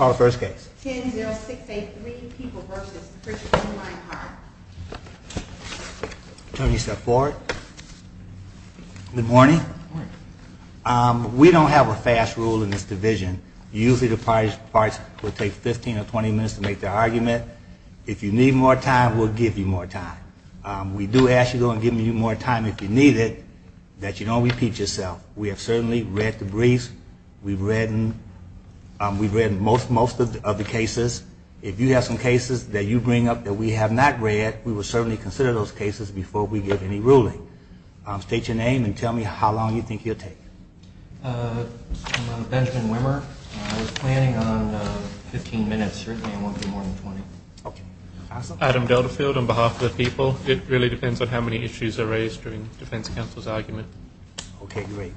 10-06-83 people v. Richard O. Rhinehart. Good morning. We don't have a fast rule in this division. Usually the parties will take 15 or 20 minutes to make their argument. If you need more time, we'll give you more time. We do ask you to go and give me more time if you need it, that you don't repeat yourself. We have certainly read the briefs. We've read most of the cases. If you have some cases that you bring up that we have not read, we will certainly consider those cases before we give any ruling. State your name and tell me how long you think you'll take. I'm Benjamin Wimmer. I was planning on 15 minutes. Certainly I want to do more than 20. Adam Delterfield on behalf of the people. It really depends on how many issues are raised during defense counsel's argument. Okay, great.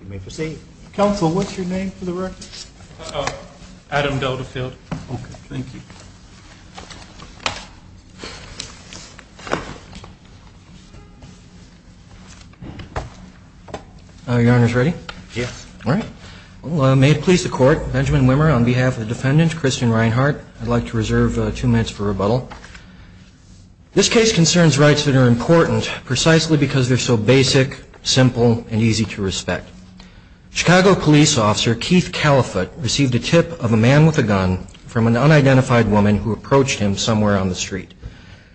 You may proceed. Counsel, what's your name for the record? Adam Delterfield. Okay, thank you. Your Honor's ready? Yes. All right. May it please the Court, Benjamin Wimmer on behalf of the defendant, Christian Rhinehart. I'd like to reserve two minutes for rebuttal. This case concerns rights that are important precisely because they're so basic, simple, and easy to respect. Chicago police officer Keith Califutt received a tip of a man with a gun from an unidentified woman who approached him somewhere on the street.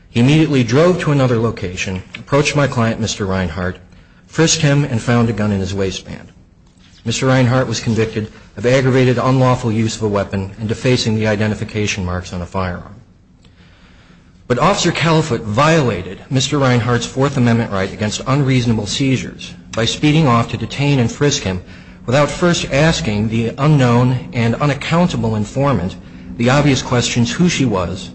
He immediately drove to another location, approached my client, Mr. Rhinehart, frisked him, and found a gun in his waistband. Mr. Rhinehart was convicted of aggravated unlawful use of a weapon and defacing the identification marks on a firearm. But Officer Califutt violated Mr. Rhinehart's Fourth Amendment right against unreasonable seizures by speeding off to detain and frisk him without first asking the unknown and unaccountable informant the obvious questions who she was,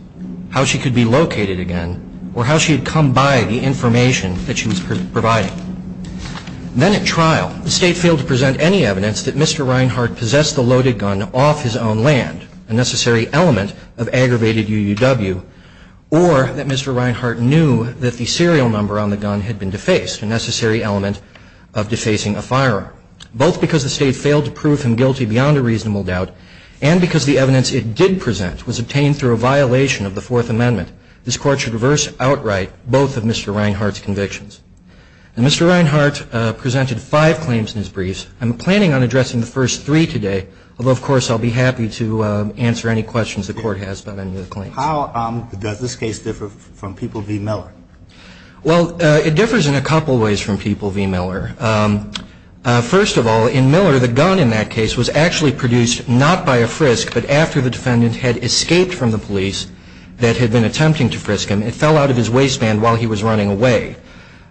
how she could be located again, or how she had come by the information that she was providing. Then at trial, the State failed to present any evidence that Mr. Rhinehart possessed the loaded gun off his own land, a necessary element of aggravated UUW, or that Mr. Rhinehart knew that the serial number on the gun had been defaced, a necessary element of defacing a firearm. Both because the State failed to prove him guilty beyond a reasonable doubt and because the evidence it did present was obtained through a violation of the Fourth Amendment, this Court should reverse outright both of Mr. Rhinehart's convictions. And Mr. Rhinehart presented five claims in his briefs. I'm planning on addressing the first three today, although, of course, I'll be happy to answer any questions the Court has about any of the claims. How does this case differ from People v. Miller? Well, it differs in a couple ways from People v. Miller. First of all, in Miller, the gun in that case was actually produced not by a frisk, but after the defendant had escaped from the police that had been attempting to frisk him. It fell out of his waistband while he was running away.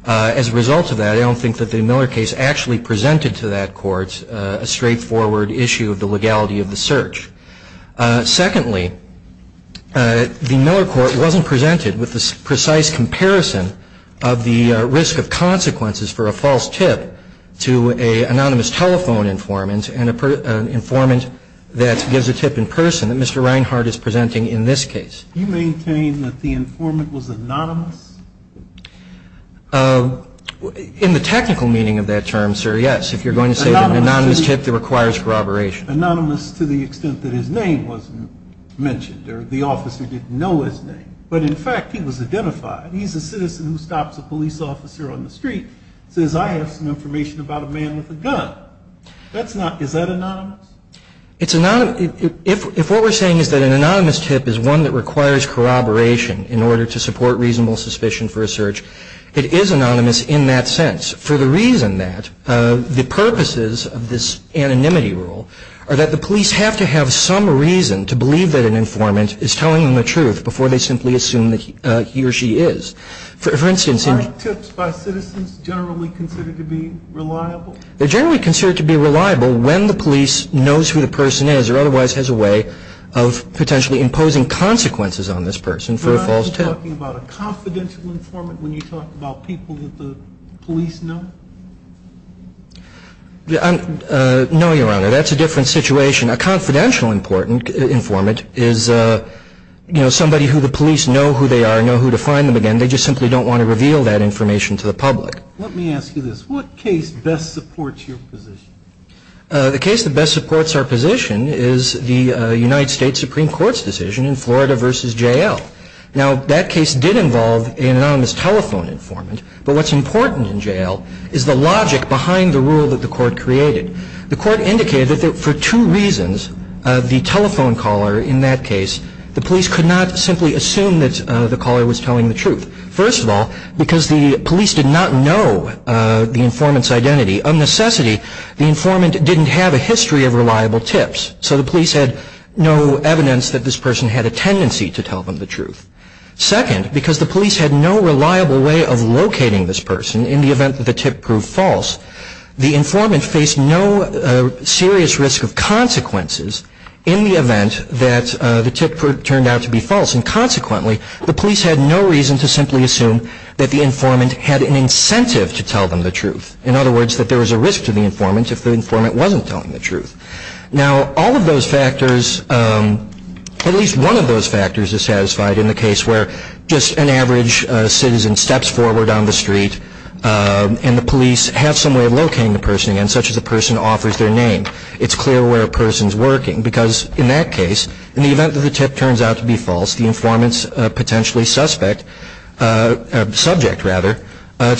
As a result of that, I don't think that the Miller case actually presented to that court a straightforward issue of the legality of the search. Secondly, the Miller court wasn't presented with a precise comparison of the risk of consequences for a false tip to an anonymous telephone informant and an informant that gives a tip in person that Mr. Rhinehart is presenting in this case. Do you maintain that the informant was anonymous? In the technical meaning of that term, sir, yes. If you're going to say that an anonymous tip requires corroboration. Anonymous to the extent that his name was mentioned or the officer didn't know his name. But, in fact, he was identified. He's a citizen who stops a police officer on the street and says, I have some information about a man with a gun. That's not – is that anonymous? It's anonymous. If what we're saying is that an anonymous tip is one that requires corroboration in order to support reasonable suspicion for a search, it is anonymous in that sense for the reason that the purposes of this anonymity rule are that the police have to have some reason to believe that an informant is telling them the truth before they simply assume that he or she is. For instance – Are tips by citizens generally considered to be reliable? They're generally considered to be reliable when the police knows who the person is or otherwise has a way of potentially imposing consequences on this person for a false tip. Are you talking about a confidential informant when you talk about people that the police know? No, Your Honor. That's a different situation. A confidential informant is, you know, somebody who the police know who they are, know who to find them again. They just simply don't want to reveal that information to the public. Let me ask you this. What case best supports your position? The case that best supports our position is the United States Supreme Court's decision in Florida v. J.L. Now, that case did involve an anonymous telephone informant, but what's important in J.L. is the logic behind the rule that the court created. The court indicated that for two reasons, the telephone caller in that case, the police could not simply assume that the caller was telling the truth. First of all, because the police did not know the informant's identity. Of necessity, the informant didn't have a history of reliable tips, so the police had no evidence that this person had a tendency to tell them the truth. Second, because the police had no reliable way of locating this person in the event that the tip proved false, the informant faced no serious risk of consequences in the event that the tip turned out to be false, and consequently, the police had no reason to simply assume that the informant had an incentive to tell them the truth. In other words, that there was a risk to the informant if the informant wasn't telling the truth. Now, all of those factors, at least one of those factors, is satisfied in the case where just an average citizen steps forward on the street and the police have some way of locating the person again, such as the person offers their name. It's clear where a person's working because, in that case, in the event that the tip turns out to be false, the informant's potentially subject to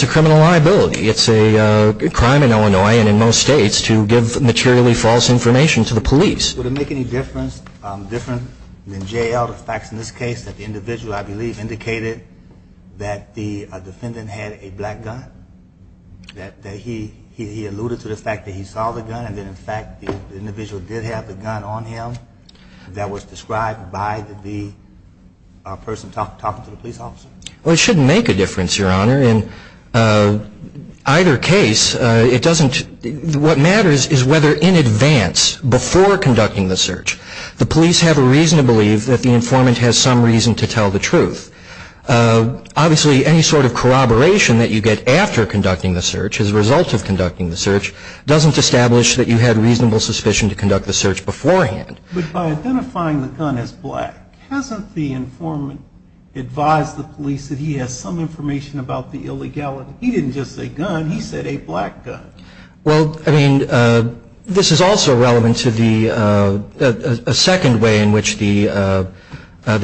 criminal liability. It's a crime in Illinois and in most states to give materially false information to the police. Would it make any difference, different than J.L., the facts in this case, that the individual, I believe, indicated that the defendant had a black gun, that he alluded to the fact that he saw the gun and that, in fact, the individual did have the gun on him, that was described by the person talking to the police officer? Well, it shouldn't make a difference, Your Honor. In either case, it doesn't – what matters is whether in advance, before conducting the search, the police have a reason to believe that the informant has some reason to tell the truth. Obviously, any sort of corroboration that you get after conducting the search, as a result of conducting the search, doesn't establish that you had reasonable suspicion to conduct the search beforehand. But by identifying the gun as black, hasn't the informant advised the police that he has some information about the illegality? He didn't just say gun. He said a black gun. Well, I mean, this is also relevant to the second way in which the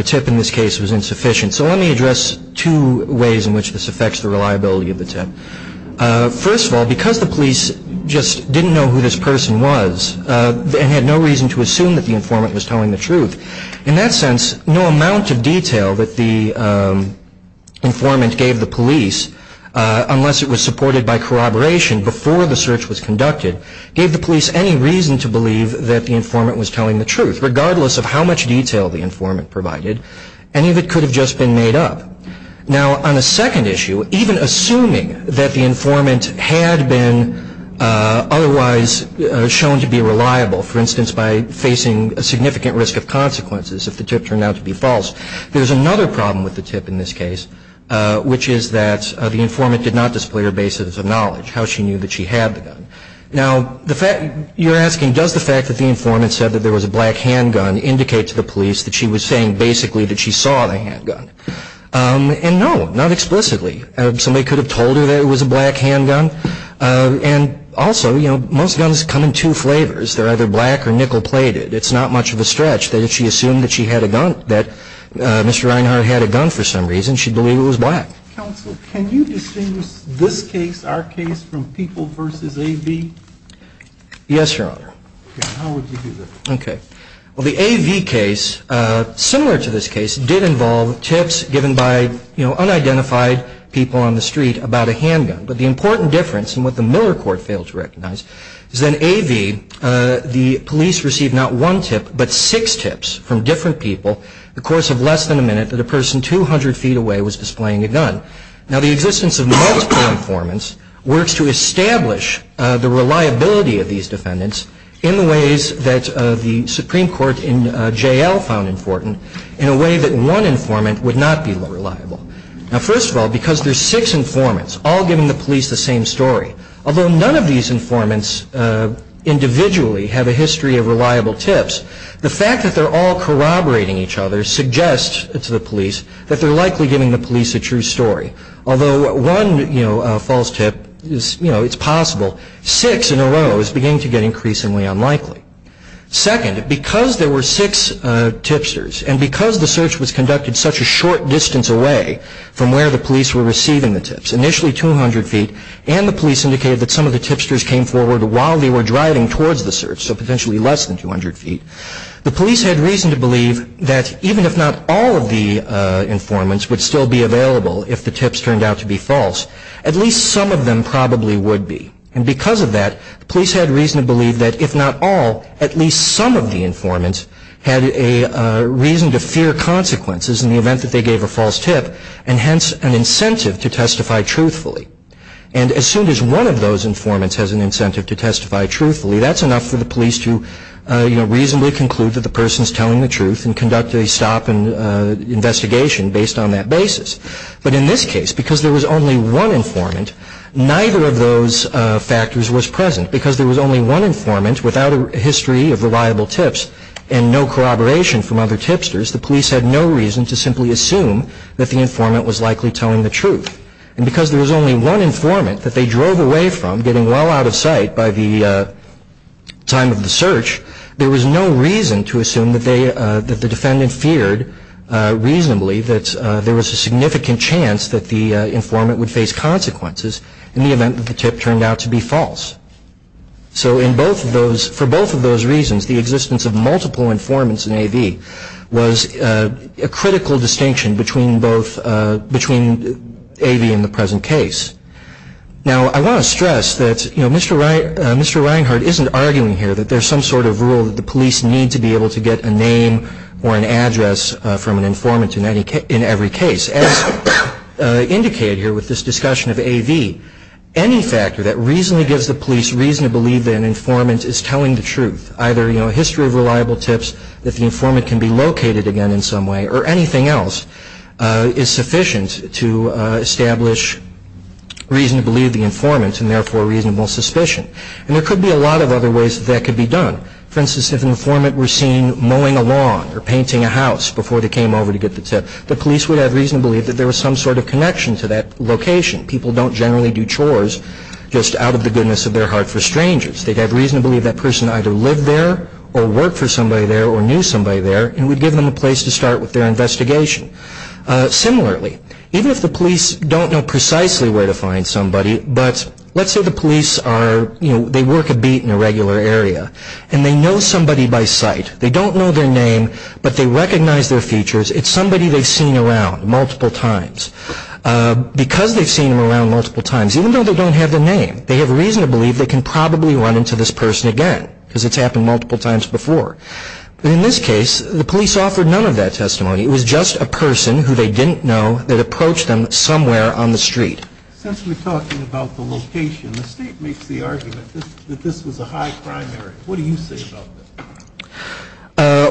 tip in this case was insufficient. So let me address two ways in which this affects the reliability of the tip. First of all, because the police just didn't know who this person was and had no reason to assume that the informant was telling the truth, in that sense, no amount of detail that the informant gave the police, unless it was supported by corroboration before the search was conducted, gave the police any reason to believe that the informant was telling the truth, regardless of how much detail the informant provided. Any of it could have just been made up. Now, on a second issue, even assuming that the informant had been otherwise shown to be reliable, for instance, by facing a significant risk of consequences if the tip turned out to be false, there's another problem with the tip in this case, which is that the informant did not display her basis of knowledge, how she knew that she had the gun. Now, you're asking, does the fact that the informant said that there was a black handgun indicate to the police that she was saying basically that she saw the handgun? And no, not explicitly. Somebody could have told her that it was a black handgun. And also, you know, most guns come in two flavors. They're either black or nickel-plated. It's not much of a stretch that if she assumed that she had a gun, that Mr. Reinhardt had a gun for some reason, she'd believe it was black. Counsel, can you distinguish this case, our case, from People v. A.V.? Yes, Your Honor. How would you do that? Okay. Well, the A.V. case, similar to this case, did involve tips given by, you know, unidentified people on the street about a handgun. But the important difference, and what the Miller Court failed to recognize, is that in A.V. the police received not one tip but six tips from different people the course of less than a minute that a person 200 feet away was displaying a gun. Now, the existence of multiple informants works to establish the reliability of these defendants in the ways that the Supreme Court in J.L. found important in a way that one informant would not be reliable. Now, first of all, because there's six informants all giving the police the same story, although none of these informants individually have a history of reliable tips, the fact that they're all corroborating each other suggests to the police that they're likely giving the police a true story. Although one, you know, false tip is, you know, it's possible, six in a row is beginning to get increasingly unlikely. Second, because there were six tipsters, and because the search was conducted such a short distance away from where the police were receiving the tips, initially 200 feet, and the police indicated that some of the tipsters came forward while they were driving towards the search, so potentially less than 200 feet, the police had reason to believe that even if not all of the informants would still be available if the tips turned out to be false, at least some of them probably would be. And because of that, the police had reason to believe that if not all, at least some of the informants had a reason to fear consequences in the event that they gave a false tip, and hence an incentive to testify truthfully. And as soon as one of those informants has an incentive to testify truthfully, that's enough for the police to, you know, reasonably conclude that the person's telling the truth and conduct a stop and investigation based on that basis. But in this case, because there was only one informant, neither of those factors was present. Because there was only one informant without a history of reliable tips and no corroboration from other tipsters, the police had no reason to simply assume that the informant was likely telling the truth. And because there was only one informant that they drove away from, getting well out of sight by the time of the search, there was no reason to assume that the defendant feared reasonably that there was a significant chance that the informant would face consequences in the event that the tip turned out to be false. So for both of those reasons, the existence of multiple informants in A.V. was a critical distinction between A.V. and the present case. Now, I want to stress that Mr. Reinhart isn't arguing here that there's some sort of rule that the police need to be able to get a name or an address from an informant in every case. As indicated here with this discussion of A.V., any factor that reasonably gives the police reason to believe that an informant is telling the truth, either a history of reliable tips, that the informant can be located again in some way, or anything else is sufficient to establish reason to believe the informant and therefore reasonable suspicion. And there could be a lot of other ways that that could be done. For instance, if an informant were seen mowing a lawn or painting a house before they came over to get the tip, the police would have reason to believe that there was some sort of connection to that location. People don't generally do chores just out of the goodness of their heart for strangers. They'd have reason to believe that person either lived there or worked for somebody there or knew somebody there and would give them a place to start with their investigation. Similarly, even if the police don't know precisely where to find somebody, but let's say the police work a beat in a regular area and they know somebody by sight. They don't know their name, but they recognize their features. It's somebody they've seen around multiple times. Because they've seen them around multiple times, even though they don't have their name, they have reason to believe they can probably run into this person again because it's happened multiple times before. But in this case, the police offered none of that testimony. It was just a person who they didn't know that approached them somewhere on the street. Since we're talking about the location, the state makes the argument that this was a high crime area. What do you say about this?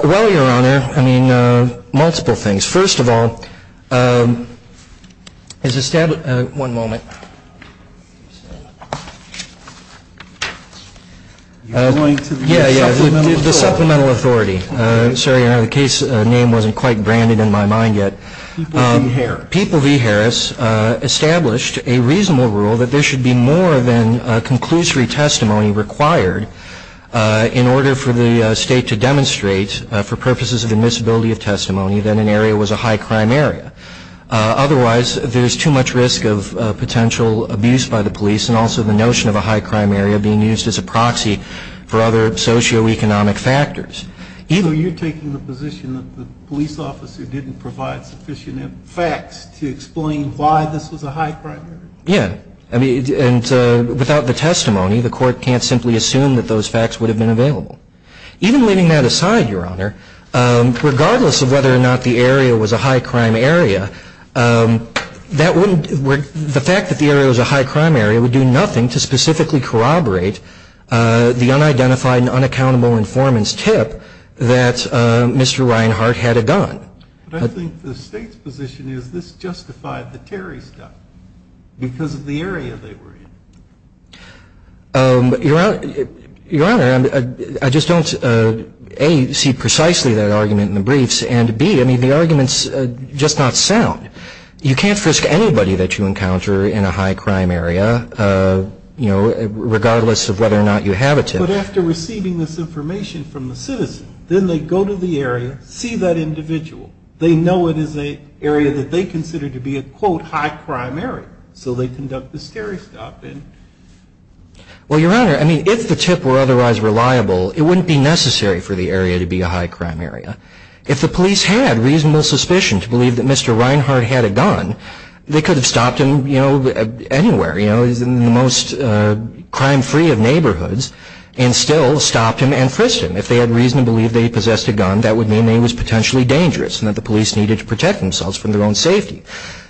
Well, Your Honor, I mean, multiple things. First of all, it's established – one moment. You're going to the Supplemental Authority. Yeah, yeah, the Supplemental Authority. Sorry, Your Honor, the case name wasn't quite branded in my mind yet. People v. Harris. established a reasonable rule that there should be more than conclusory testimony required in order for the state to demonstrate, for purposes of admissibility of testimony, that an area was a high crime area. Otherwise, there's too much risk of potential abuse by the police and also the notion of a high crime area being used as a proxy for other socioeconomic factors. So you're taking the position that the police officer didn't provide sufficient facts to explain why this was a high crime area? Yeah, and without the testimony, the court can't simply assume that those facts would have been available. Even leaving that aside, Your Honor, regardless of whether or not the area was a high crime area, the fact that the area was a high crime area would do nothing to specifically corroborate the unidentified and unaccountable informant's tip that Mr. Reinhart had a gun. But I think the state's position is this justified the Terry stuff because of the area they were in. Your Honor, I just don't, A, see precisely that argument in the briefs, and, B, I mean, the argument's just not sound. You can't risk anybody that you encounter in a high crime area, you know, regardless of whether or not you have a tip. But after receiving this information from the citizen, then they go to the area, see that individual. They know it is an area that they consider to be a, quote, high crime area. So they conduct the Terry stuff. Well, Your Honor, I mean, if the tip were otherwise reliable, it wouldn't be necessary for the area to be a high crime area. If the police had reasonable suspicion to believe that Mr. Reinhart had a gun, they could have stopped him, you know, anywhere. You know, he's in the most crime-free of neighborhoods, and still stopped him and frisked him. If they had reason to believe that he possessed a gun, that would mean that he was potentially dangerous and that the police needed to protect themselves from their own safety.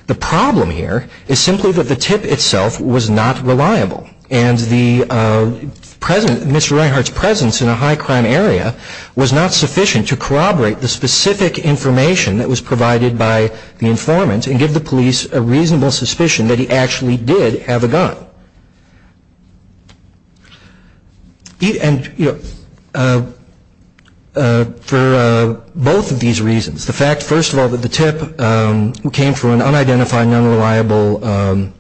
The problem here is simply that the tip itself was not reliable, and Mr. Reinhart's presence in a high crime area was not sufficient to corroborate the specific information that was provided by the informant and give the police a reasonable suspicion that he actually did have a gun. And, you know, for both of these reasons, the fact, first of all, that the tip came from an unidentified, unreliable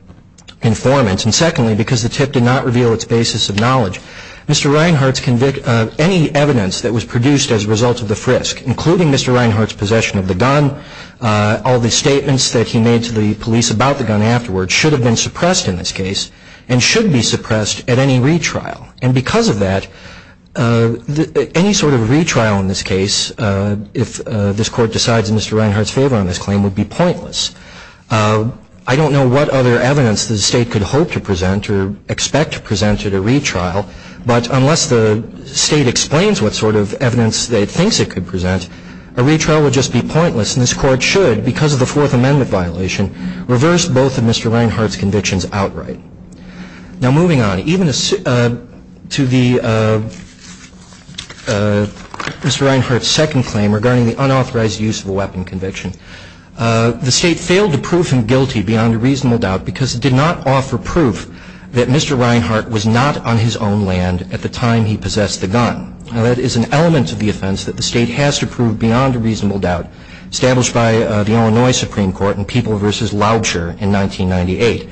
informant, and secondly, because the tip did not reveal its basis of knowledge, Mr. Reinhart's conviction, any evidence that was produced as a result of the frisk, including Mr. Reinhart's possession of the gun, all the statements that he made to the police about the gun afterwards, should have been suppressed in this case and should be suppressed at any retrial. And because of that, any sort of retrial in this case, if this Court decides in Mr. Reinhart's favor on this claim, would be pointless. I don't know what other evidence the State could hope to present or expect to present at a retrial, but unless the State explains what sort of evidence the State thinks it could present, a retrial would just be pointless. And this Court should, because of the Fourth Amendment violation, reverse both of Mr. Reinhart's convictions outright. Now, moving on, even to the Mr. Reinhart's second claim regarding the unauthorized use of a weapon conviction, the State failed to prove him guilty beyond a reasonable doubt, because it did not offer proof that Mr. Reinhart was not on his own land at the time he possessed the gun. Now, that is an element of the offense that the State has to prove beyond a reasonable doubt, established by the Illinois Supreme Court in People v. Loudsher in 1998.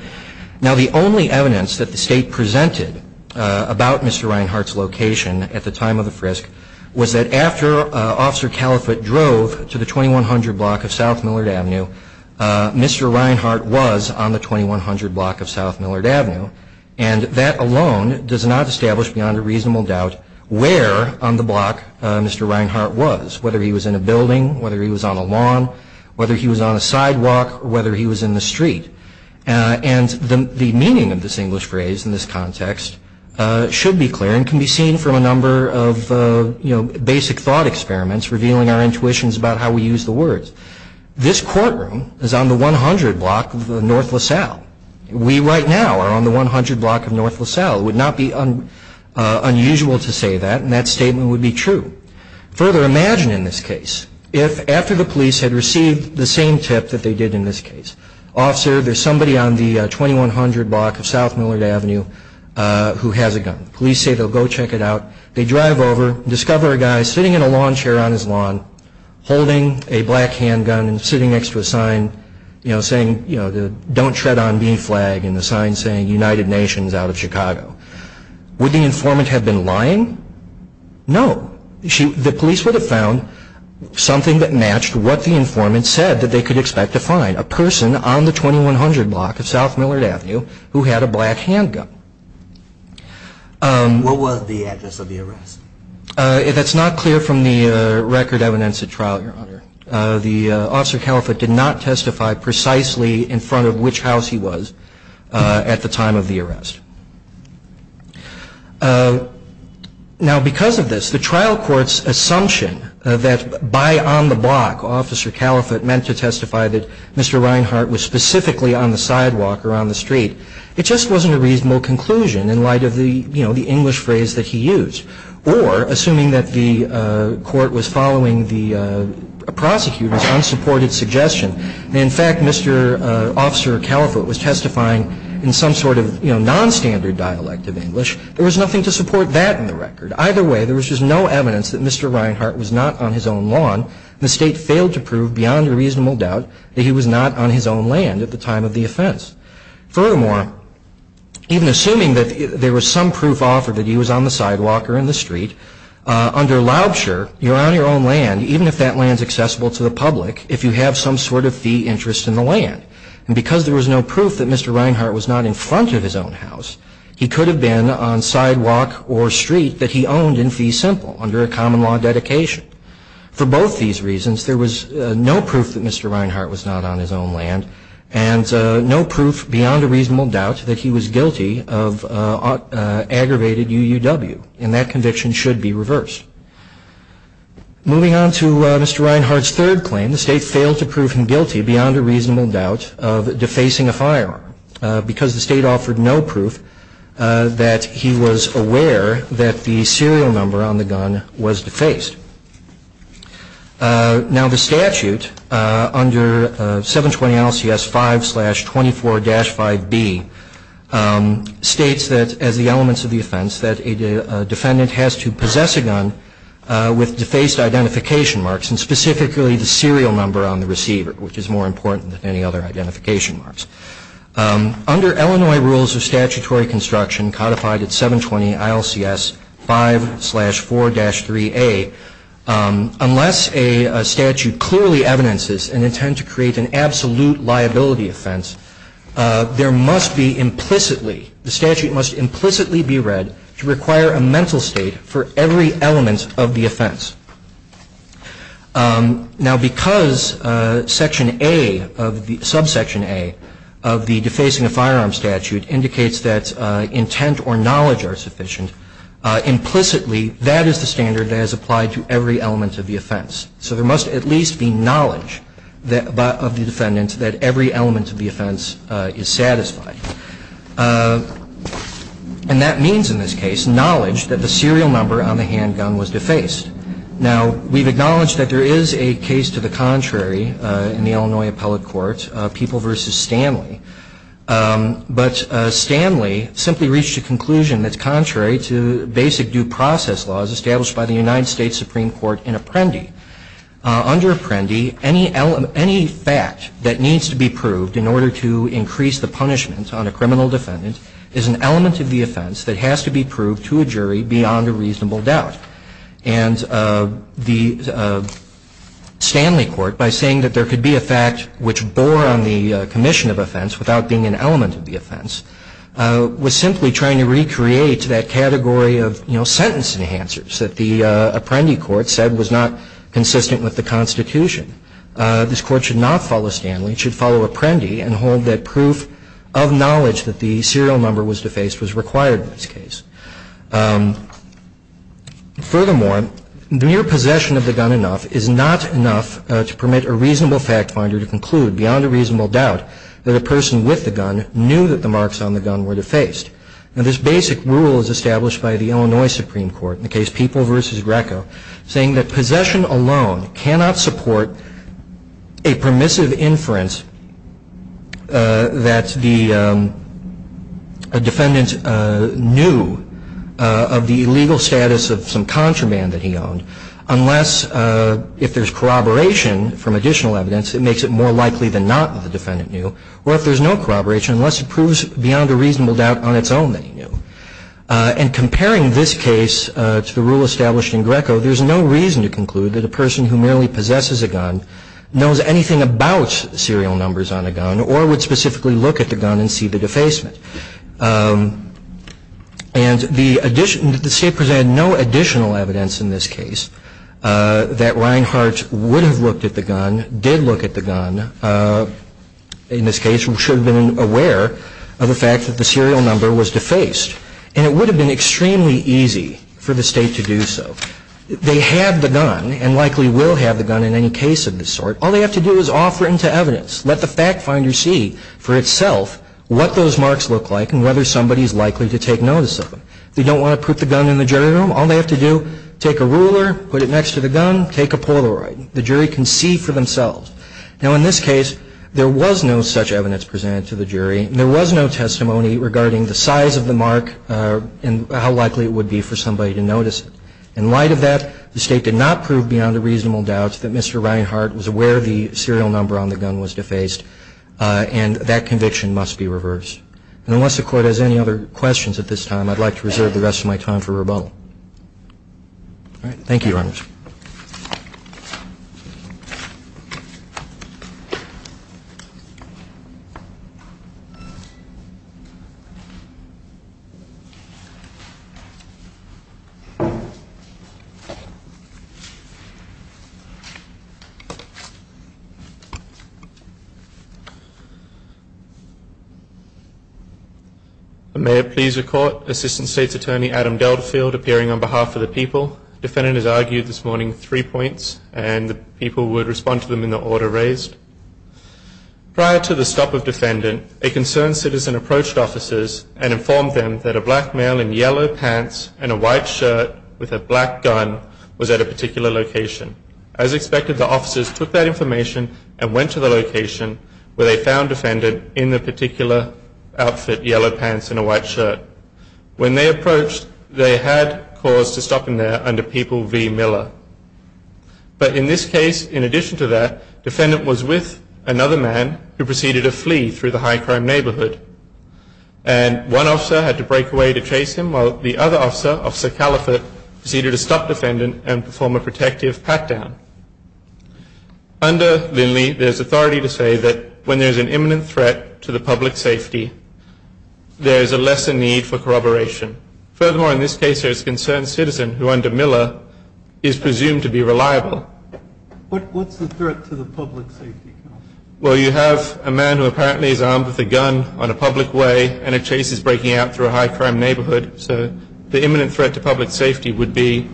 Now, the only evidence that the State presented about Mr. Reinhart's location at the time of the frisk was that after Officer Caliphate drove to the 2100 block of South Millard Avenue, Mr. Reinhart was on the 2100 block of South Millard Avenue, and that alone does not establish beyond a reasonable doubt where on the block Mr. Reinhart was, whether he was in a building, whether he was on a lawn, whether he was on a sidewalk, or whether he was in the street. And the meaning of this English phrase in this context should be clear and can be seen from a number of basic thought experiments revealing our intuitions about how we use the words. This courtroom is on the 100 block of North LaSalle. We right now are on the 100 block of North LaSalle. It would not be unusual to say that, and that statement would be true. Further, imagine in this case, if after the police had received the same tip that they did in this case, Officer, there's somebody on the 2100 block of South Millard Avenue who has a gun. Police say they'll go check it out. They drive over, discover a guy sitting in a lawn chair on his lawn, holding a black handgun and sitting next to a sign saying, you know, the Don't Tread on Bean flag and the sign saying United Nations out of Chicago. Would the informant have been lying? No. The police would have found something that matched what the informant said that they could expect to find, a person on the 2100 block of South Millard Avenue who had a black handgun. What was the address of the arrest? That's not clear from the record evidence at trial, Your Honor. The Officer Caliphate did not testify precisely in front of which house he was at the time of the arrest. Now, because of this, the trial court's assumption that by on the block, Officer Caliphate meant to testify that Mr. Reinhart was specifically on the sidewalk or on the street, it just wasn't a reasonable conclusion in light of the, you know, the English phrase that he used. Or, assuming that the court was following the prosecutor's unsupported suggestion, that, in fact, Mr. Officer Caliphate was testifying in some sort of, you know, nonstandard dialect of English, there was nothing to support that in the record. Either way, there was just no evidence that Mr. Reinhart was not on his own lawn. The State failed to prove beyond a reasonable doubt that he was not on his own land at the time of the offense. Furthermore, even assuming that there was some proof offered that he was on the sidewalk or in the street, under Laubscher, you're on your own land, even if that land's accessible to the public, if you have some sort of fee interest in the land. And because there was no proof that Mr. Reinhart was not in front of his own house, he could have been on sidewalk or street that he owned in fee simple under a common law dedication. For both these reasons, there was no proof that Mr. Reinhart was not on his own land and no proof beyond a reasonable doubt that he was guilty of aggravated UUW. And that conviction should be reversed. Moving on to Mr. Reinhart's third claim, the State failed to prove him guilty beyond a reasonable doubt of defacing a firearm because the State offered no proof that he was aware that the serial number on the gun was defaced. Now, the statute under 720 NLCS 5-24-5B states that as the elements of the offense that a defendant has to possess a gun with defaced identification marks, and specifically the serial number on the receiver, which is more important than any other identification marks. Under Illinois rules of statutory construction codified at 720 NLCS 5-4-3A, unless a statute clearly evidences an intent to create an absolute liability offense, there must be implicitly, the statute must implicitly be read to require a mental state for every element of the offense. Now, because Section A of the – subsection A of the defacing a firearm statute indicates that intent or knowledge are sufficient, implicitly that is the standard that is applied to every element of the offense. So there must at least be knowledge of the defendant that every element of the offense is satisfied. And that means in this case knowledge that the serial number on the handgun was defaced. Now, we've acknowledged that there is a case to the contrary in the Illinois appellate court, People v. Stanley. But Stanley simply reached a conclusion that's contrary to basic due process laws established by the United States Supreme Court in Apprendi. Under Apprendi, any fact that needs to be proved in order to increase the punishment on a criminal defendant is an element of the offense that has to be proved to a jury beyond a reasonable doubt. And the Stanley court, by saying that there could be a fact which bore on the commission of offense without being an element of the offense, was simply trying to recreate that category of, you know, sentence enhancers that the Apprendi court said was not consistent with the Constitution. This Court should not follow Stanley. It should follow Apprendi and hold that proof of knowledge that the serial number was defaced was required in this case. Furthermore, mere possession of the gun enough is not enough to permit a reasonable fact finder to conclude beyond a reasonable doubt that a person with the gun knew that the marks on the gun were defaced. Now, this basic rule is established by the Illinois Supreme Court in the case People v. Greco, saying that possession alone cannot support a permissive inference that the defendant knew of the illegal status of some contraband that he owned, unless if there's corroboration from additional evidence, it makes it more likely than not that the defendant knew, or if there's no corroboration, unless it proves beyond a reasonable doubt on its own that he knew. And comparing this case to the rule established in Greco, there's no reason to conclude that a person who merely possesses a gun knows anything about serial numbers on a gun or would specifically look at the gun and see the defacement. And the State presented no additional evidence in this case that Reinhart would have looked at the gun, did look at the gun, in this case should have been aware of the fact that the serial number was defaced. And it would have been extremely easy for the State to do so. They have the gun and likely will have the gun in any case of this sort. All they have to do is offer it into evidence. Let the fact finder see for itself what those marks look like and whether somebody is likely to take notice of them. They don't want to put the gun in the jury room. All they have to do, take a ruler, put it next to the gun, take a Polaroid. The jury can see for themselves. Now, in this case, there was no such evidence presented to the jury. There was no testimony regarding the size of the mark and how likely it would be for somebody to notice it. In light of that, the State did not prove beyond a reasonable doubt that Mr. Reinhart was aware the serial number on the gun was defaced. And that conviction must be reversed. And unless the Court has any other questions at this time, I'd like to reserve the rest of my time for rebuttal. All right. Thank you, Your Honors. Thank you, Your Honor. May it please the Court, Assistant State's Attorney Adam Delfield appearing on behalf of the people. The defendant has argued this morning three points, and the people would respond to them in the order raised. Prior to the stop of defendant, a concerned citizen approached officers and informed them that a black male in yellow pants and a white shirt with a black gun was at a particular location. As expected, the officers took that information and went to the location where they found defendant in the particular outfit, yellow pants and a white shirt. When they approached, they had cause to stop him there under People v. Miller. But in this case, in addition to that, defendant was with another man who proceeded to flee through the high crime neighborhood. And one officer had to break away to chase him, while the other officer, Officer Caliphate, proceeded to stop defendant and perform a protective pat-down. Under Lindley, there's authority to say that when there's an imminent threat to the public safety, there's a lesser need for corroboration. Furthermore, in this case, there's a concerned citizen, who under Miller is presumed to be reliable. What's the threat to the public safety? Well, you have a man who apparently is armed with a gun on a public way and a chase is breaking out through a high crime neighborhood. So the imminent threat to public safety would be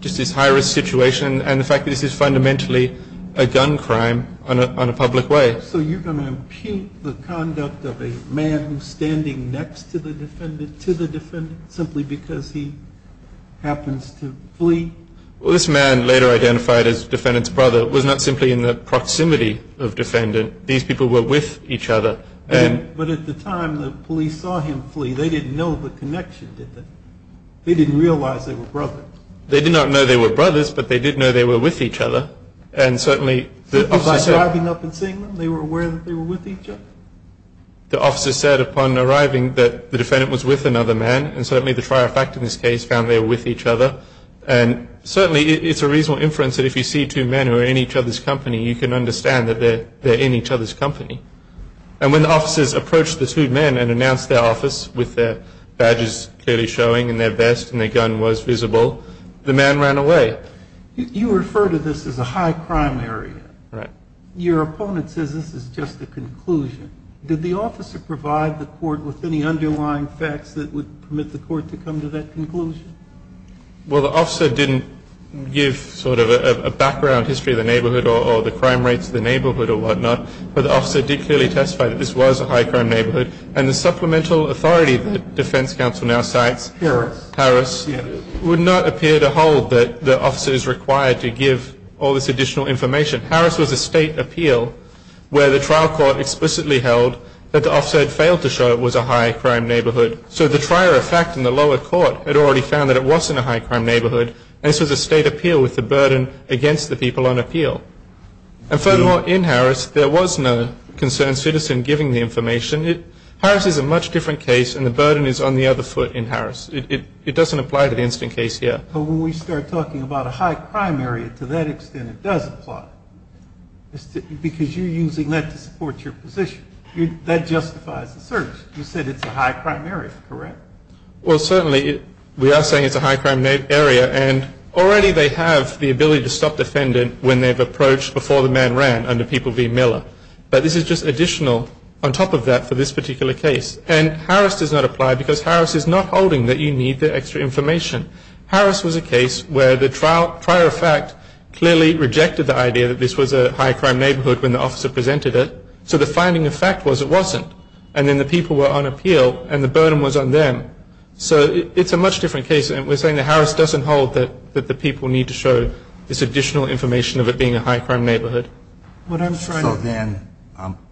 just this high-risk situation and the fact that this is fundamentally a gun crime on a public way. So you're going to impugn the conduct of a man who's standing next to the defendant simply because he happens to flee? Well, this man, later identified as defendant's brother, was not simply in the proximity of defendant. These people were with each other. But at the time the police saw him flee, they didn't know the connection, did they? They didn't realize they were brothers. They did not know they were brothers, but they did know they were with each other. Simply by driving up and seeing them, they were aware that they were with each other? The officer said upon arriving that the defendant was with another man, and certainly the trier fact in this case found they were with each other. And certainly it's a reasonable inference that if you see two men who are in each other's company, you can understand that they're in each other's company. And when the officers approached the two men and announced their office, with their badges clearly showing and their vest and their gun was visible, the man ran away. You refer to this as a high crime area. Right. Your opponent says this is just a conclusion. Did the officer provide the court with any underlying facts that would permit the court to come to that conclusion? Well, the officer didn't give sort of a background history of the neighborhood or the crime rates of the neighborhood or whatnot, but the officer did clearly testify that this was a high crime neighborhood. And the supplemental authority that defense counsel now cites, Harris, would not appear to hold that the officer is required to give all this additional information. Harris was a state appeal where the trial court explicitly held that the officer had failed to show it was a high crime neighborhood. So the trier effect in the lower court had already found that it wasn't a high crime neighborhood, and this was a state appeal with the burden against the people on appeal. And furthermore, in Harris, there was no concerned citizen giving the information. Harris is a much different case, and the burden is on the other foot in Harris. It doesn't apply to the instant case here. But when we start talking about a high crime area, to that extent it does apply, because you're using that to support your position. That justifies the search. You said it's a high crime area, correct? Well, certainly we are saying it's a high crime area, and already they have the ability to stop the defendant when they've approached before the man ran under people v. Miller. But this is just additional on top of that for this particular case. And Harris does not apply because Harris is not holding that you need the extra information. Harris was a case where the trier effect clearly rejected the idea that this was a high crime neighborhood when the officer presented it. So the finding of fact was it wasn't. And then the people were on appeal, and the burden was on them. So it's a much different case. We're saying that Harris doesn't hold that the people need to show this additional information of it being a high crime neighborhood. So then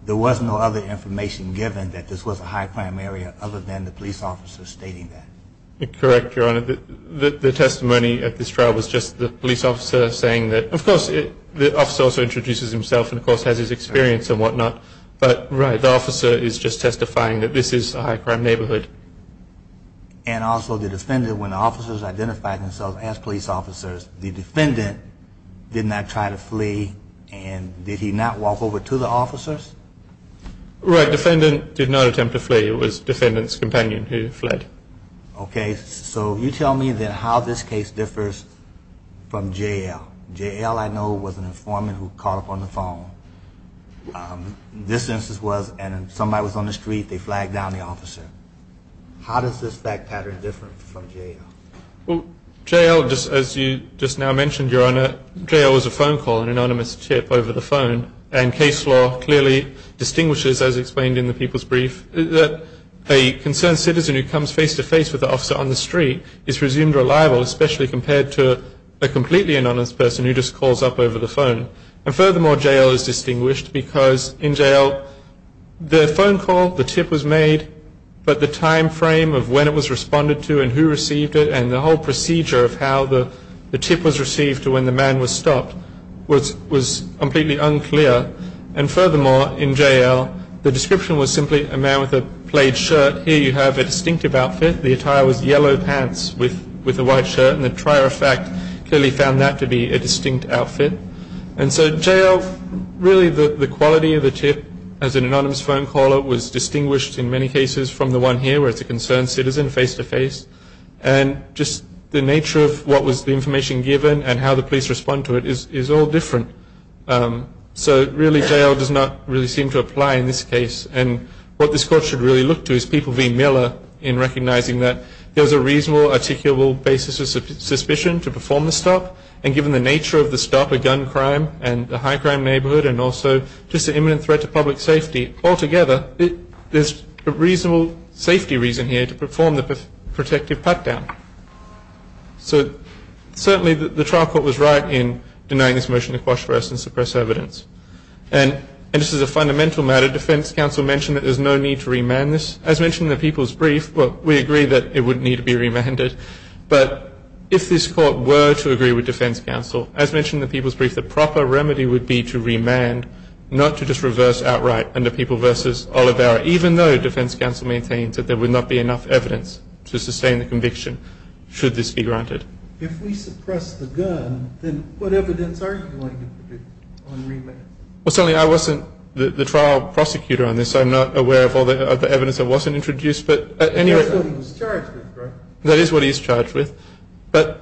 there was no other information given that this was a high crime area other than the police officer stating that? Correct, Your Honor. The testimony at this trial was just the police officer saying that, of course, the officer also introduces himself and, of course, has his experience and whatnot. But, right, the officer is just testifying that this is a high crime neighborhood. And also the defendant, when the officers identified themselves as police officers, the defendant did not try to flee, and did he not walk over to the officers? Right. Defendant did not attempt to flee. It was defendant's companion who fled. Okay. So you tell me then how this case differs from J.L. J.L., I know, was an informant who caught up on the phone. This instance was somebody was on the street. They flagged down the officer. How does this fact pattern differ from J.L.? Well, J.L., as you just now mentioned, Your Honor, J.L. was a phone call, an anonymous tip over the phone. And case law clearly distinguishes, as explained in the people's brief, that a concerned citizen who comes face-to-face with the officer on the street is presumed reliable, especially compared to a completely anonymous person who just calls up over the phone. And, furthermore, J.L. is distinguished because in J.L. the phone call, the tip was made, but the time frame of when it was responded to and who received it and the whole procedure of how the tip was received to when the man was stopped was completely unclear. And, furthermore, in J.L. the description was simply a man with a plaid shirt. Here you have a distinctive outfit. The attire was yellow pants with a white shirt. And the trier of fact clearly found that to be a distinct outfit. And so, J.L., really the quality of the tip as an anonymous phone caller was distinguished in many cases from the one here where it's a concerned citizen face-to-face. And just the nature of what was the information given and how the police respond to it is all different. So, really, J.L. does not really seem to apply in this case. And what this Court should really look to is people v. Miller in recognizing that there's a reasonable, articulable basis of suspicion to perform the stop, and given the nature of the stop, a gun crime and a high-crime neighborhood, and also just an imminent threat to public safety, altogether there's a reasonable safety reason here to perform the protective pat-down. So, certainly the trial court was right in denying this motion to quash arrest and suppress evidence. And this is a fundamental matter. Defense counsel mentioned that there's no need to remand this. As mentioned in the people's brief, we agree that it wouldn't need to be remanded. But if this Court were to agree with defense counsel, as mentioned in the people's brief, the proper remedy would be to remand, not to just reverse outright under people v. Olivera, even though defense counsel maintains that there would not be enough evidence to sustain the conviction, should this be granted. If we suppress the gun, then what evidence are you going to produce on remand? Well, certainly I wasn't the trial prosecutor on this. I'm not aware of all the evidence that wasn't introduced. That's what he's charged with, right? That is what he's charged with. But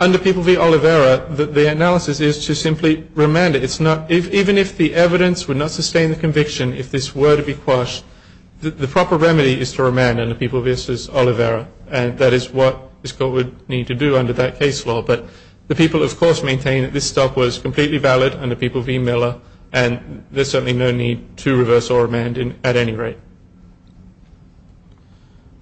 under people v. Olivera, the analysis is to simply remand it. Even if the evidence would not sustain the conviction, if this were to be quashed, the proper remedy is to remand under people v. Olivera, and that is what this Court would need to do under that case law. But the people, of course, maintain that this stop was completely valid under people v. Miller, and there's certainly no need to reverse or remand at any rate.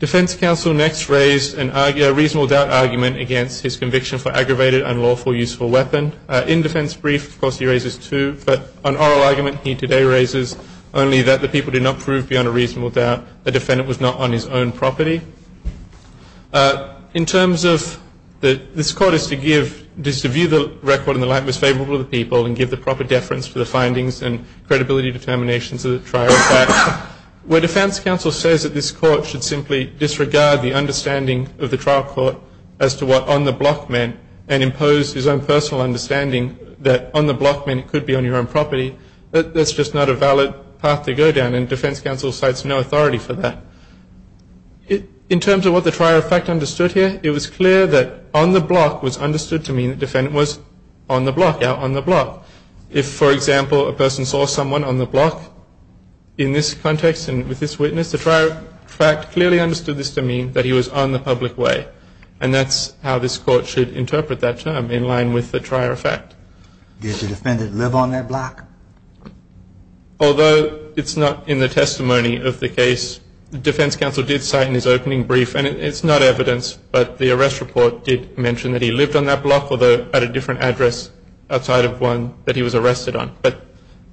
Defense counsel next raised a reasonable doubt argument against his conviction for aggravated and lawful use of a weapon. In defense brief, of course, he raises two, but an oral argument he today raises only that the people did not prove beyond a reasonable doubt the defendant was not on his own property. In terms of this Court is to view the record in the light most favorable to the people and give the proper deference to the findings and credibility determinations of the trial of fact. Where defense counsel says that this Court should simply disregard the understanding of the trial court as to what on the block meant and impose his own personal understanding that on the block meant it could be on your own property, that's just not a valid path to go down, and defense counsel cites no authority for that. In terms of what the trial of fact understood here, it was clear that on the block was understood to mean the defendant was on the block, out on the block. If, for example, a person saw someone on the block in this context and with this witness, the trial of fact clearly understood this to mean that he was on the public way, and that's how this Court should interpret that term in line with the trial of fact. Did the defendant live on that block? Although it's not in the testimony of the case, the defense counsel did cite in his opening brief, and it's not evidence, but the arrest report did mention that he lived on that block, although at a different address outside of one that he was arrested on. But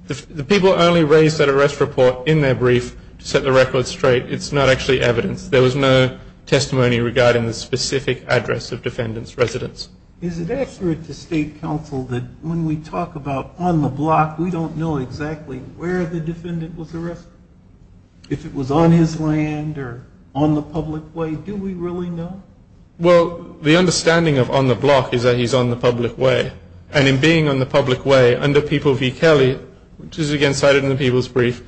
the people only raised that arrest report in their brief to set the record straight. It's not actually evidence. There was no testimony regarding the specific address of defendant's residence. Is it accurate to state counsel that when we talk about on the block, we don't know exactly where the defendant was arrested? If it was on his land or on the public way, do we really know? Well, the understanding of on the block is that he's on the public way. And in being on the public way, under People v. Kelly, which is again cited in the people's brief,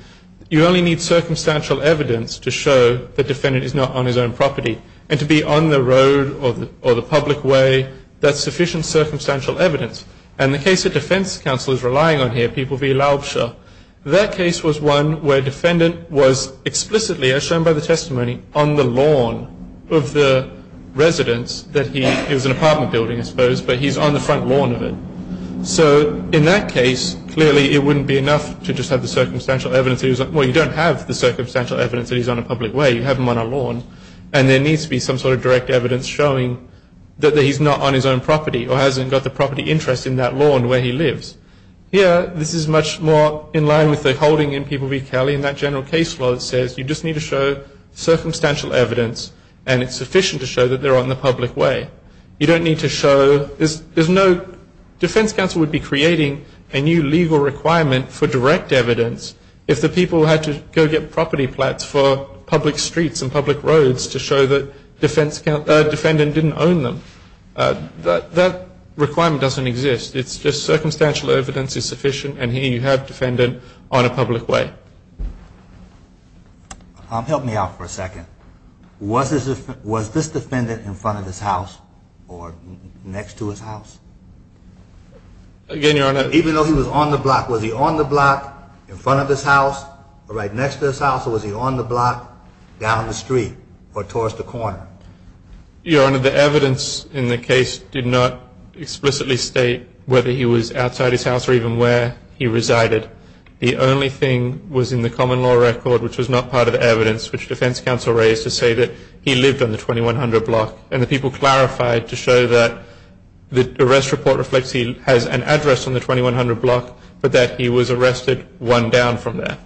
you only need circumstantial evidence to show the defendant is not on his own property. And to be on the road or the public way, that's sufficient circumstantial evidence. And the case the defense counsel is relying on here, People v. Laubscher, that case was one where defendant was explicitly, as shown by the testimony, on the lawn of the residence. It was an apartment building, I suppose, but he's on the front lawn of it. So in that case, clearly it wouldn't be enough to just have the circumstantial evidence. Well, you don't have the circumstantial evidence that he's on a public way. You have him on a lawn. And there needs to be some sort of direct evidence showing that he's not on his own property or hasn't got the property interest in that lawn where he lives. Here, this is much more in line with the holding in People v. Kelly, and that general case law that says you just need to show circumstantial evidence and it's sufficient to show that they're on the public way. You don't need to show, there's no, defense counsel would be creating a new legal requirement for direct evidence if the people had to go get property plats for public streets and public roads to show that defendant didn't own them. That requirement doesn't exist. It's just circumstantial evidence is sufficient, and here you have defendant on a public way. Help me out for a second. Was this defendant in front of his house or next to his house? Again, Your Honor. Even though he was on the block, was he on the block in front of his house or right next to his house, or was he on the block down the street or towards the corner? Your Honor, the evidence in the case did not explicitly state whether he was outside his house or even where he resided. The only thing was in the common law record, which was not part of the evidence, which defense counsel raised to say that he lived on the 2100 block, and the people clarified to show that the arrest report reflects he has an address on the 2100 block, but that he was arrested one down from there.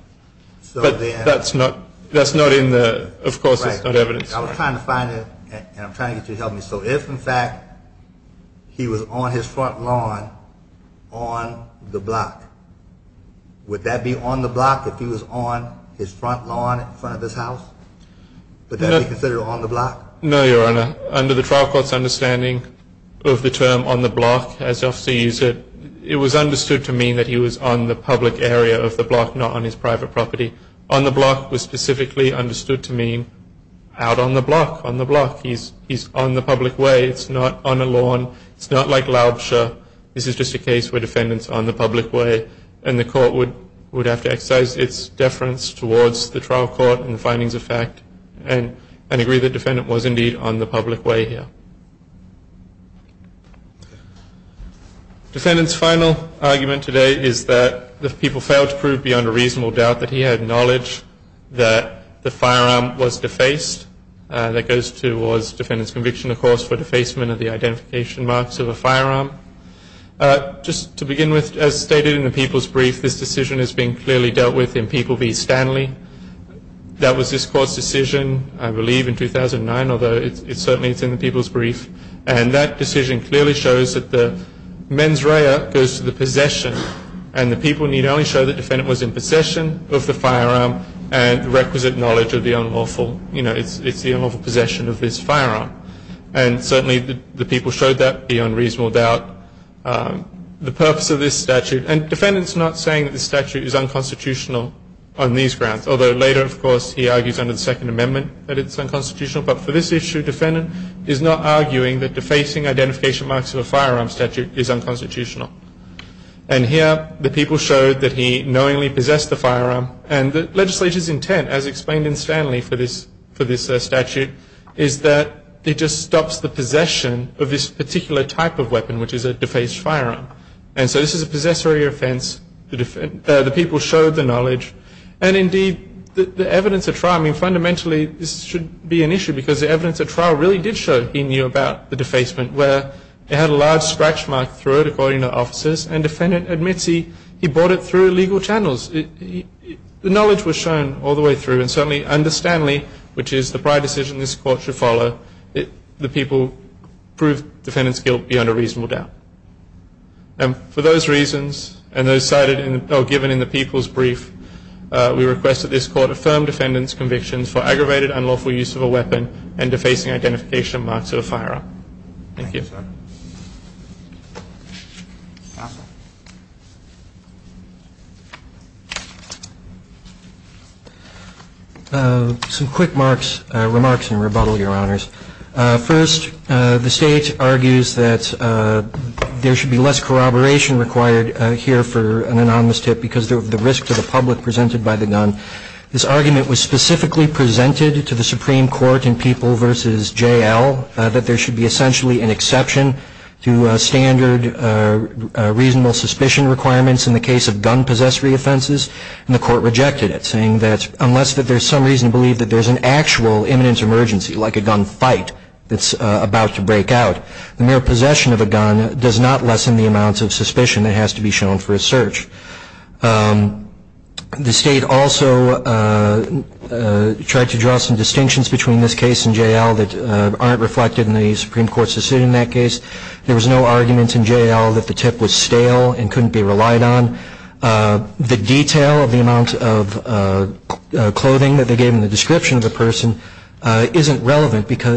But that's not in the, of course, it's not evidence. I was trying to find it, and I'm trying to get you to help me. So if, in fact, he was on his front lawn on the block, would that be on the block if he was on his front lawn in front of his house? Would that be considered on the block? No, Your Honor. Under the trial court's understanding of the term on the block, as the officer used it, it was understood to mean that he was on the public area of the block, not on his private property. On the block was specifically understood to mean out on the block, on the block. He's on the public way. It's not on a lawn. It's not like Laubscher. This is just a case where defendant's on the public way, and the court would have to exercise its deference towards the trial court and the findings of fact and agree the defendant was indeed on the public way here. Defendant's final argument today is that the people failed to prove beyond a reasonable doubt that he had knowledge that the firearm was defaced. That goes towards defendant's conviction, of course, for defacement of the identification marks of a firearm. Just to begin with, as stated in the people's brief, this decision has been clearly dealt with in People v. Stanley. That was this court's decision, I believe, in 2009, although certainly it's in the people's brief. And that decision clearly shows that the mens rea goes to the possession, and the people need only show that defendant was in possession of the firearm and requisite knowledge of the unlawful possession of this firearm. And certainly the people showed that beyond reasonable doubt. The purpose of this statute, and defendant's not saying that the statute is unconstitutional on these grounds, although later, of course, he argues under the Second Amendment that it's unconstitutional. But for this issue, defendant is not arguing that defacing identification marks of a firearm statute is unconstitutional. And here, the people showed that he knowingly possessed the firearm. And the legislature's intent, as explained in Stanley for this statute, is that it just stops the possession of this particular type of weapon, which is a defaced firearm. And so this is a possessory offense. The people showed the knowledge. And indeed, the evidence at trial, I mean, fundamentally this should be an issue because the evidence at trial really did show he knew about the defacement, where it had a large scratch mark through it, according to officers, and defendant admits he brought it through legal channels. The knowledge was shown all the way through, and certainly under Stanley, which is the prior decision this court should follow, the people proved defendant's guilt beyond a reasonable doubt. And for those reasons, and those cited or given in the people's brief, we request that this court affirm defendant's convictions for aggravated unlawful use of a weapon and defacing identification marks of a firearm. Thank you. Some quick remarks and rebuttal, Your Honors. First, the state argues that there should be less corroboration required here for an anonymous tip because of the risk to the public presented by the gun. This argument was specifically presented to the Supreme Court in People v. J.L. that there should be essentially an exception to standard reasonable suspicion requirements in the case of gun possessory offenses, and the court rejected it, saying that unless there's some reason to believe that there's an actual imminent emergency, like a gun fight that's about to break out, the mere possession of a gun does not lessen the amount of suspicion that has to be shown for a search. The state also tried to draw some distinctions between this case and J.L. that aren't reflected in the Supreme Court's decision in that case. There was no argument in J.L. that the tip was stale and couldn't be relied on. The detail of the amount of clothing that they gave in the description of the person isn't relevant to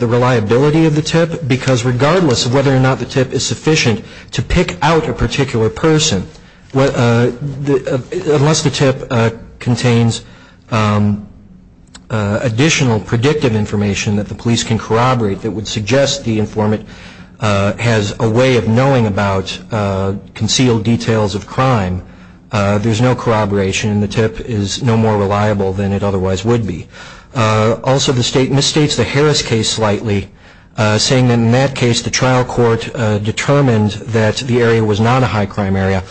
the reliability of the tip, because regardless of whether or not the tip is sufficient to pick out a particular person, unless the tip contains additional predictive information that the police can corroborate that would suggest the informant has a way of knowing about concealed details of crime, there's no corroboration, and the tip is no more reliable than it otherwise would be. Also, the state misstates the Harris case slightly, saying that in that case the trial court determined that the area was not a high-crime area.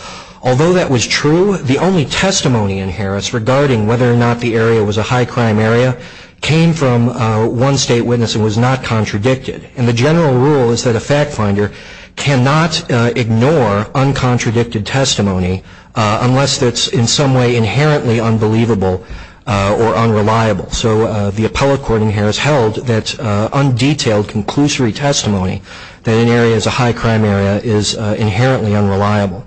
Although that was true, the only testimony in Harris regarding whether or not the area was a high-crime area came from one state witness and was not contradicted. And the general rule is that a fact finder cannot ignore uncontradicted testimony unless it's in some way inherently unbelievable or unreliable. So the appellate court in Harris held that undetailed conclusory testimony that an area is a high-crime area is inherently unreliable.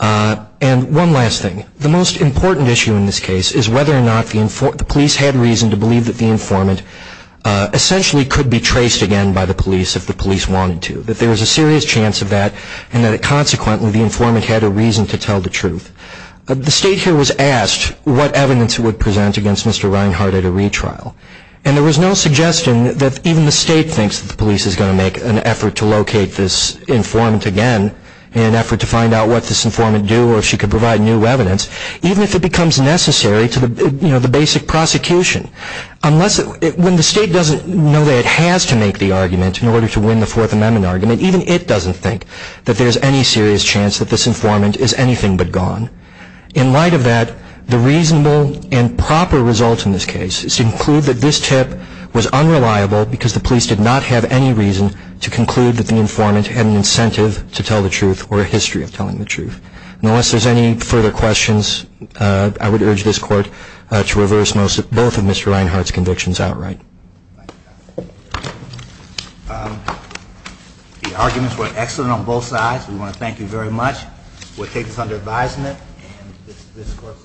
And one last thing. The most important issue in this case is whether or not the police had reason to believe that the informant essentially could be traced again by the police if the police wanted to, that there was a serious chance of that, and that consequently the informant had a reason to tell the truth. The state here was asked what evidence it would present against Mr. Reinhart at a retrial, and there was no suggestion that even the state thinks that the police is going to make an effort to locate this informant again in an effort to find out what this informant would do or if she could provide new evidence, even if it becomes necessary to the basic prosecution. When the state doesn't know that it has to make the argument in order to win the Fourth Amendment argument, even it doesn't think that there's any serious chance that this informant is anything but gone. In light of that, the reasonable and proper result in this case is to conclude that this tip was unreliable because the police did not have any reason to conclude that the informant had an incentive to tell the truth or a history of telling the truth. Unless there's any further questions, I would urge this Court to reverse both of Mr. Reinhart's convictions outright. Thank you, counsel. The arguments were excellent on both sides. We want to thank you very much. We'll take this under advisement, and this Court is adjourned.